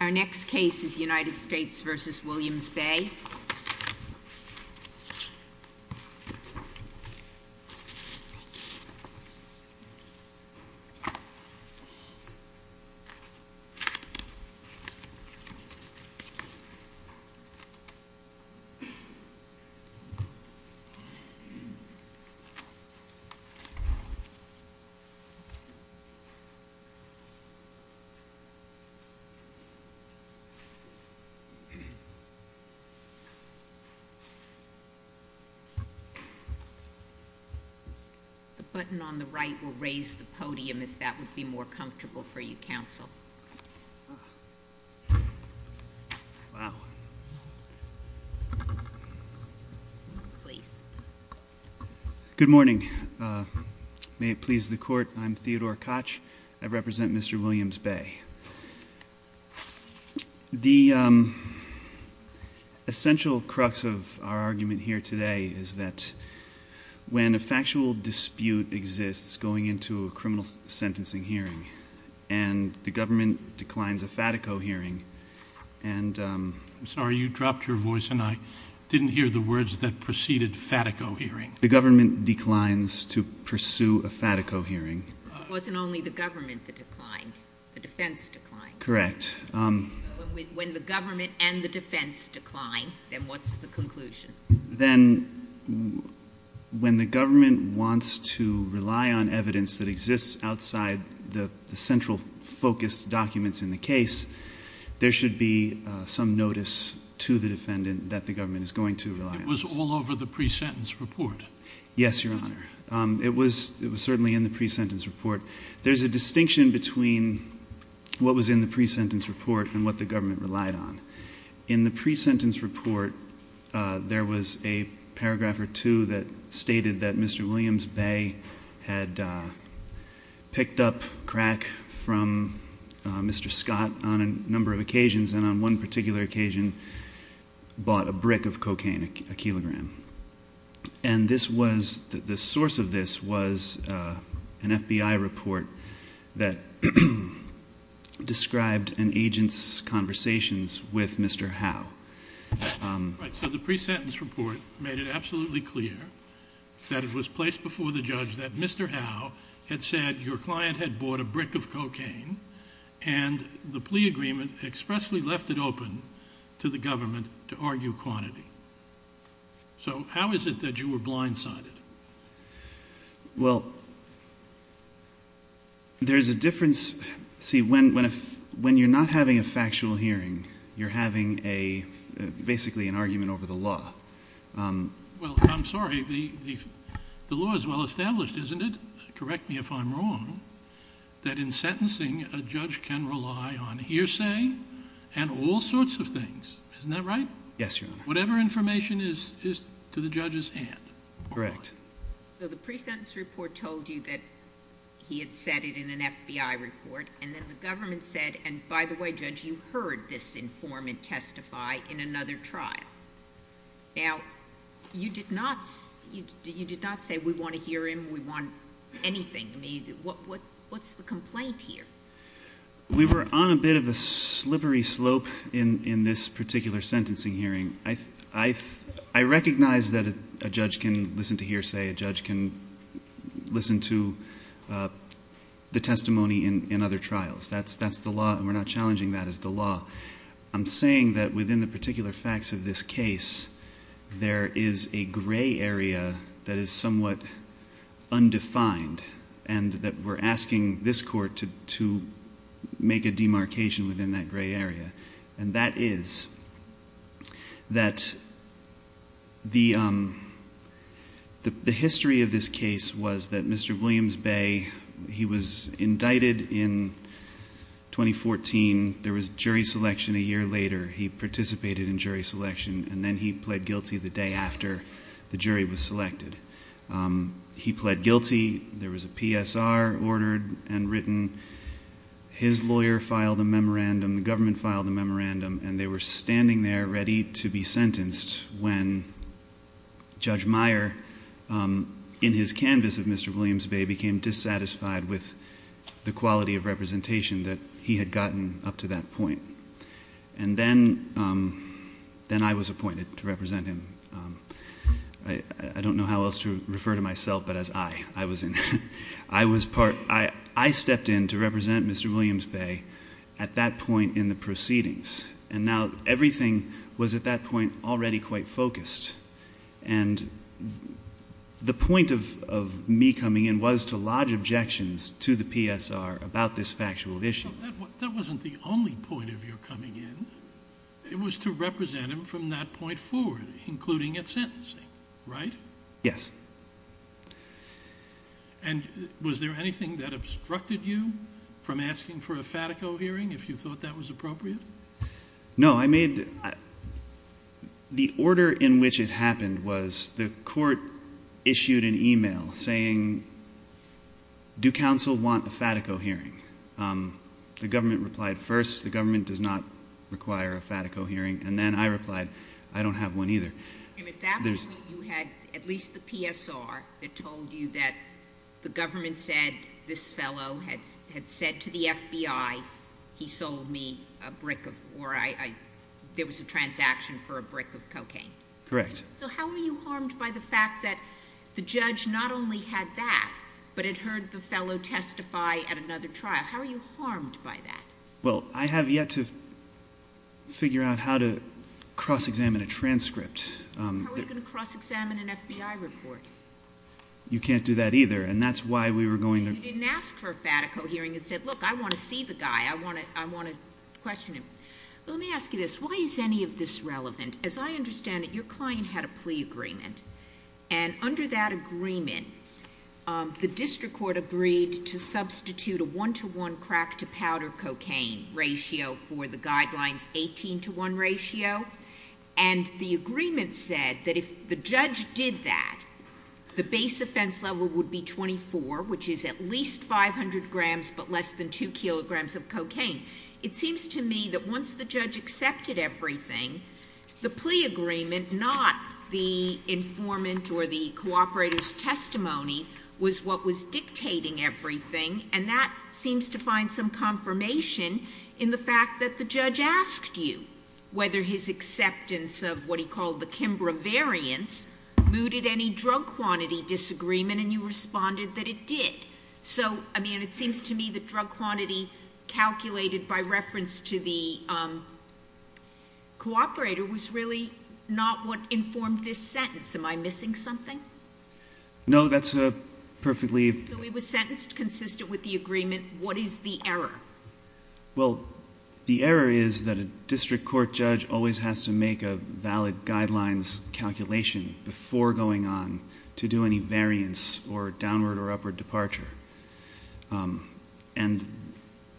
Our next case is United States v. Williams Bay. The button on the right will raise the podium if that would be more comfortable for you, counsel. Wow. Please. Good morning. May it please the court, I'm Theodore Koch. I represent Mr. Williams Bay. The essential crux of our argument here today is that when a factual dispute exists going into a criminal sentencing hearing and the government declines a FATICO hearing and I'm sorry, you dropped your voice and I didn't hear the words that preceded FATICO hearing. The government declines to pursue a FATICO hearing. It wasn't only the government that declined. The defense declined. Correct. When the government and the defense decline, then what's the conclusion? Then when the government wants to rely on evidence that exists outside the central focused documents in the case, there should be some notice to the defendant that the government is going to rely on. Yes, Your Honor. It was certainly in the pre-sentence report. There's a distinction between what was in the pre-sentence report and what the government relied on. In the pre-sentence report, there was a paragraph or two that stated that Mr. Williams Bay had picked up crack from Mr. Scott on a number of occasions and on one particular occasion bought a brick of cocaine, a kilogram. And the source of this was an FBI report that described an agent's conversations with Mr. Howe. Right, so the pre-sentence report made it absolutely clear that it was placed before the judge that Mr. Howe had said your client had bought a brick of cocaine and the plea agreement expressly left it open to the government to argue quantity. So how is it that you were blindsided? Well, there's a difference. See, when you're not having a factual hearing, you're having basically an argument over the law. Well, I'm sorry, the law is well established, isn't it? Correct me if I'm wrong, that in sentencing a judge can rely on hearsay and all sorts of things. Isn't that right? Yes, Your Honor. Whatever information is to the judge's hand. Correct. So the pre-sentence report told you that he had said it in an FBI report and then the government said, and by the way, Judge, you heard this informant testify in another trial. Now, you did not say we want to hear him, we want anything. I mean, what's the complaint here? We were on a bit of a slippery slope in this particular sentencing hearing. I recognize that a judge can listen to hearsay, a judge can listen to the testimony in other trials. That's the law, and we're not challenging that as the law. I'm saying that within the particular facts of this case, there is a gray area that is somewhat undefined and that we're asking this court to make a demarcation within that gray area. And that is that the history of this case was that Mr. Williams Bay, he was indicted in 2014. There was jury selection a year later. He participated in jury selection, and then he pled guilty the day after the jury was selected. He pled guilty. There was a PSR ordered and written. His lawyer filed a memorandum, the government filed a memorandum, and they were standing there ready to be sentenced when Judge Meyer, in his canvas of Mr. Williams Bay, became dissatisfied with the quality of representation that he had gotten up to that point. And then I was appointed to represent him. I don't know how else to refer to myself, but as I. I stepped in to represent Mr. Williams Bay at that point in the proceedings, and now everything was at that point already quite focused. And the point of me coming in was to lodge objections to the PSR about this factual issue. That wasn't the only point of your coming in. It was to represent him from that point forward, including at sentencing, right? Yes. And was there anything that obstructed you from asking for a FATICO hearing, if you thought that was appropriate? No. I mean, the order in which it happened was the court issued an e-mail saying, do counsel want a FATICO hearing? The government replied first. The government does not require a FATICO hearing. And then I replied, I don't have one either. And at that point you had at least the PSR that told you that the government said this fellow had said to the FBI he sold me a brick of, or there was a transaction for a brick of cocaine? Correct. So how are you harmed by the fact that the judge not only had that, but had heard the fellow testify at another trial? How are you harmed by that? Well, I have yet to figure out how to cross-examine a transcript. How are you going to cross-examine an FBI report? You can't do that either, and that's why we were going to ---- You didn't ask for a FATICO hearing and said, look, I want to see the guy. I want to question him. Let me ask you this. Why is any of this relevant? As I understand it, your client had a plea agreement. And under that agreement, the district court agreed to substitute a one-to-one crack-to-powder cocaine ratio for the guidelines 18-to-one ratio. And the agreement said that if the judge did that, the base offense level would be 24, which is at least 500 grams but less than 2 kilograms of cocaine. It seems to me that once the judge accepted everything, the plea agreement, not the informant or the cooperator's testimony, was what was dictating everything. And that seems to find some confirmation in the fact that the judge asked you whether his acceptance of what he called the Kimbra variance mooted any drug quantity disagreement, and you responded that it did. So, I mean, it seems to me that drug quantity calculated by reference to the cooperator was really not what informed this sentence. Am I missing something? No, that's perfectly ---- So it was sentenced consistent with the agreement. What is the error? Well, the error is that a district court judge always has to make a valid guidelines calculation before going on to do any variance or downward or upward departure. And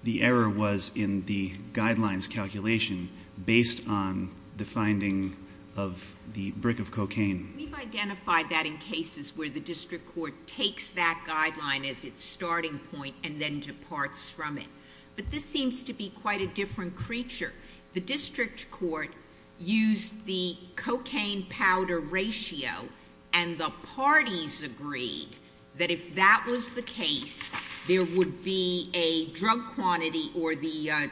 the error was in the guidelines calculation based on the finding of the brick of cocaine. We've identified that in cases where the district court takes that guideline as its starting point and then departs from it. But this seems to be quite a different creature. The district court used the cocaine powder ratio, and the parties agreed that if that was the case, there would be a drug quantity or the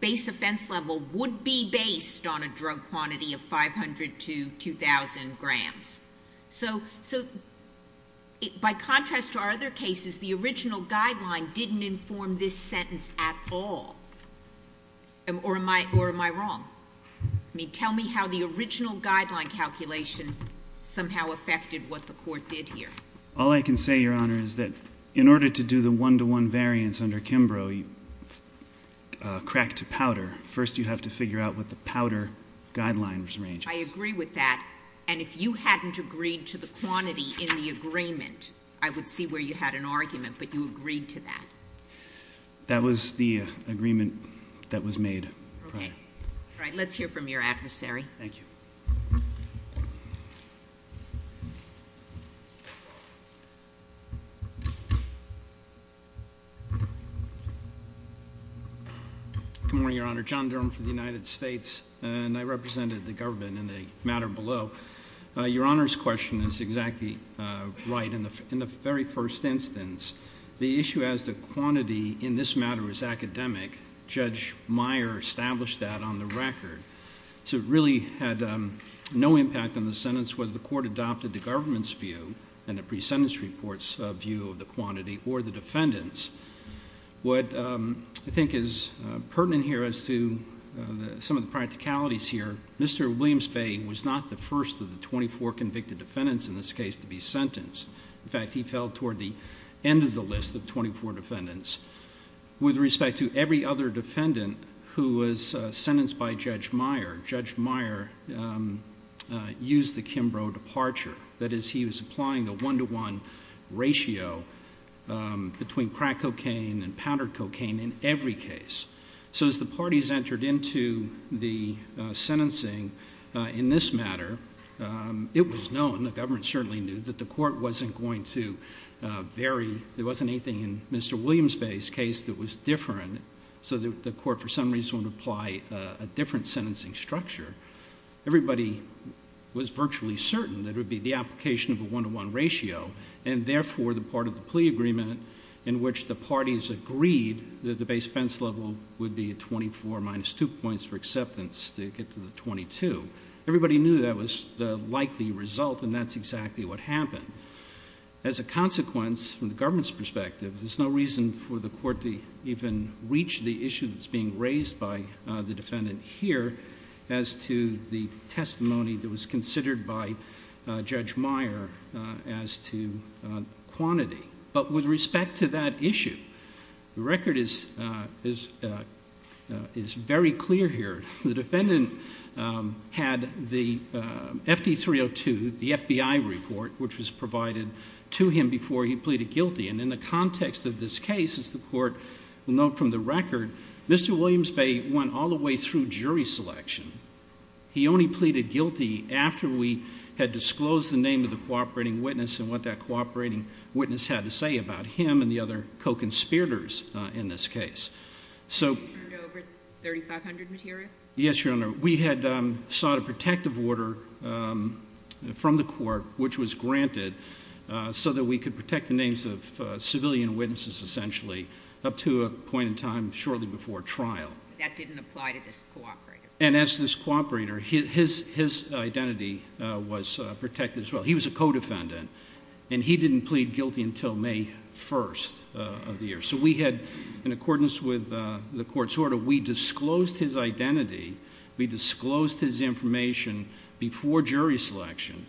base offense level would be based on a drug quantity of 500 to 2,000 grams. So by contrast to our other cases, the original guideline didn't inform this sentence at all. Or am I wrong? I mean, tell me how the original guideline calculation somehow affected what the court did here. All I can say, Your Honor, is that in order to do the one-to-one variance under Kimbrough crack to powder, first you have to figure out what the powder guidelines range is. I agree with that. And if you hadn't agreed to the quantity in the agreement, I would see where you had an argument, but you agreed to that. That was the agreement that was made. Okay. All right, let's hear from your adversary. Thank you. Good morning, Your Honor. John Durham for the United States, and I represented the government in the matter below. Your Honor's question is exactly right. In the very first instance, the issue as to quantity in this matter is academic. Judge Meyer established that on the record. So it really had no impact on the sentence whether the court adopted the government's view and the pre-sentence report's view of the quantity or the defendant's. What I think is pertinent here as to some of the practicalities here, Mr. Williams Bay was not the first of the 24 convicted defendants in this case to be sentenced. In fact, he fell toward the end of the list of 24 defendants. With respect to every other defendant who was sentenced by Judge Meyer, Judge Meyer used the Kimbrough departure. That is, he was applying a one-to-one ratio between crack cocaine and powdered cocaine in every case. So as the parties entered into the sentencing in this matter, it was known, the government certainly knew, that the court wasn't going to vary, there wasn't anything in Mr. Williams Bay's case that was different, so the court for some reason would apply a different sentencing structure. Everybody was virtually certain that it would be the application of a one-to-one ratio, and therefore the part of the plea agreement in which the parties agreed that the base offense level would be 24 minus 2 points for acceptance to get to the 22. Everybody knew that was the likely result and that's exactly what happened. As a consequence, from the government's perspective, there's no reason for the court to even reach the issue that's being raised by the defendant here as to the testimony that was considered by Judge Meyer as to quantity. But with respect to that issue, the record is very clear here. The defendant had the FD302, the FBI report, which was provided to him before he pleaded guilty, and in the context of this case, as the court will note from the record, Mr. Williams Bay went all the way through jury selection. He only pleaded guilty after we had disclosed the name of the cooperating witness and what that cooperating witness had to say about him and the other co-conspirators in this case. Over 3,500 material? Yes, Your Honor. We had sought a protective order from the court, which was granted, so that we could protect the names of civilian witnesses essentially up to a point in time shortly before trial. That didn't apply to this cooperator. And as this cooperator, his identity was protected as well. He was a co-defendant, and he didn't plead guilty until May 1st of the year. So we had, in accordance with the court's order, we disclosed his identity. We disclosed his information before jury selection.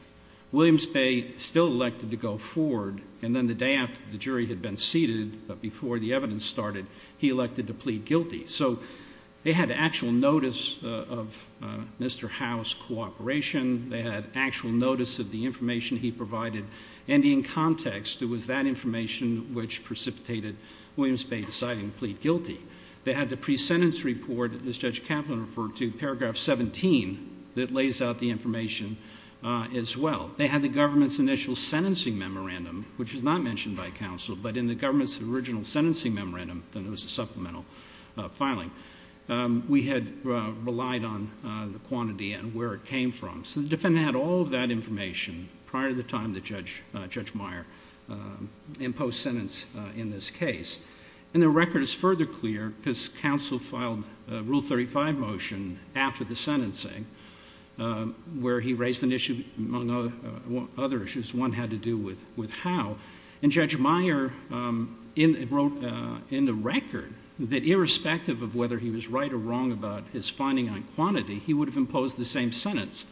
Williams Bay still elected to go forward, and then the day after the jury had been seated, but before the evidence started, he elected to plead guilty. So they had actual notice of Mr. Howe's cooperation. They had actual notice of the information he provided, and in context, it was that information which precipitated Williams Bay deciding to plead guilty. They had the pre-sentence report, as Judge Kaplan referred to, paragraph 17, that lays out the information as well. They had the government's initial sentencing memorandum, which was not mentioned by counsel, but in the government's original sentencing memorandum, then there was a supplemental filing. We had relied on the quantity and where it came from. So the defendant had all of that information prior to the time that Judge Meyer imposed sentence in this case. And the record is further clear because counsel filed a Rule 35 motion after the sentencing, where he raised an issue among other issues. One had to do with Howe. And Judge Meyer wrote in the record that irrespective of whether he was right or wrong about his finding on quantity, he would have imposed the same sentence,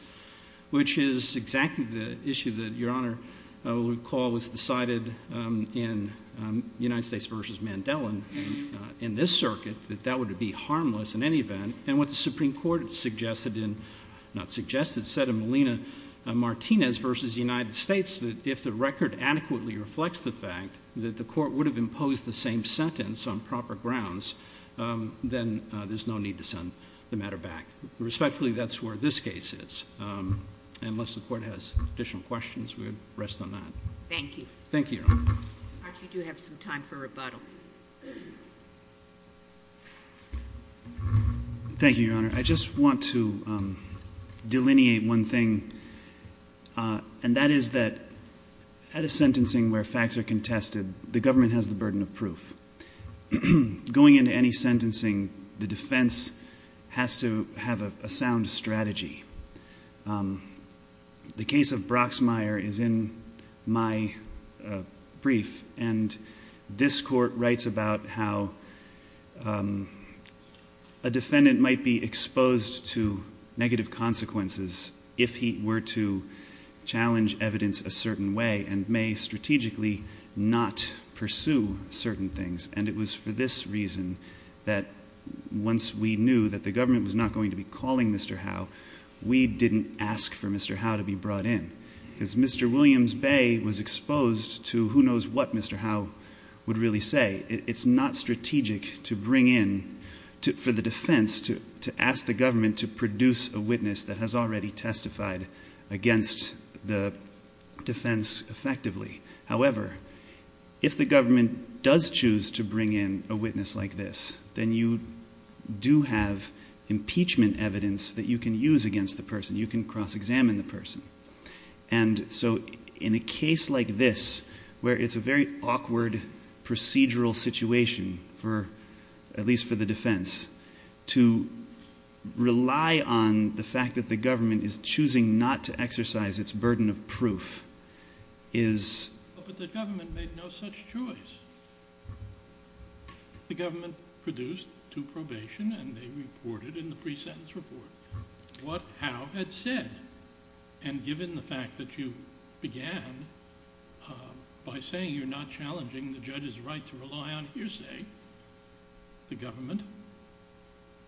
which is exactly the issue that, Your Honor, recall was decided in United States v. Mandela in this circuit, that that would be harmless in any event. And what the Supreme Court suggested, not suggested, said in Molina-Martinez v. United States, that if the record adequately reflects the fact that the court would have imposed the same sentence on proper grounds, then there's no need to send the matter back. Respectfully, that's where this case is. Unless the Court has additional questions, we would rest on that. Thank you. Thank you, Your Honor. Archie, you do have some time for rebuttal. Thank you, Your Honor. I just want to delineate one thing, and that is that at a sentencing where facts are contested, the government has the burden of proof. Going into any sentencing, the defense has to have a sound strategy. The case of Broxmire is in my brief, and this Court writes about how a defendant might be exposed to negative consequences if he were to challenge evidence a certain way and may strategically not pursue certain things. And it was for this reason that once we knew that the government was not going to be calling Mr. Howe, we didn't ask for Mr. Howe to be brought in. Because Mr. Williams Bay was exposed to who knows what Mr. Howe would really say. It's not strategic for the defense to ask the government to produce a witness that has already testified against the defense effectively. However, if the government does choose to bring in a witness like this, then you do have impeachment evidence that you can use against the person. You can cross-examine the person. And so in a case like this, where it's a very awkward procedural situation, at least for the defense, to rely on the fact that the government is choosing not to exercise its burden of proof is... But the government made no such choice. The government produced to probation, and they reported in the pre-sentence report what Howe had said. And given the fact that you began by saying you're not challenging the judge's right to rely on hearsay, the government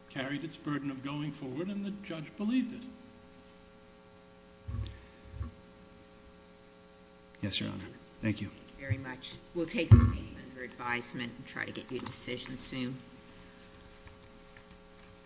carried its burden of going forward, and the judge believed it. Yes, Your Honor. Thank you. Thank you very much. We'll take the case under advisement and try to get you a decision soon.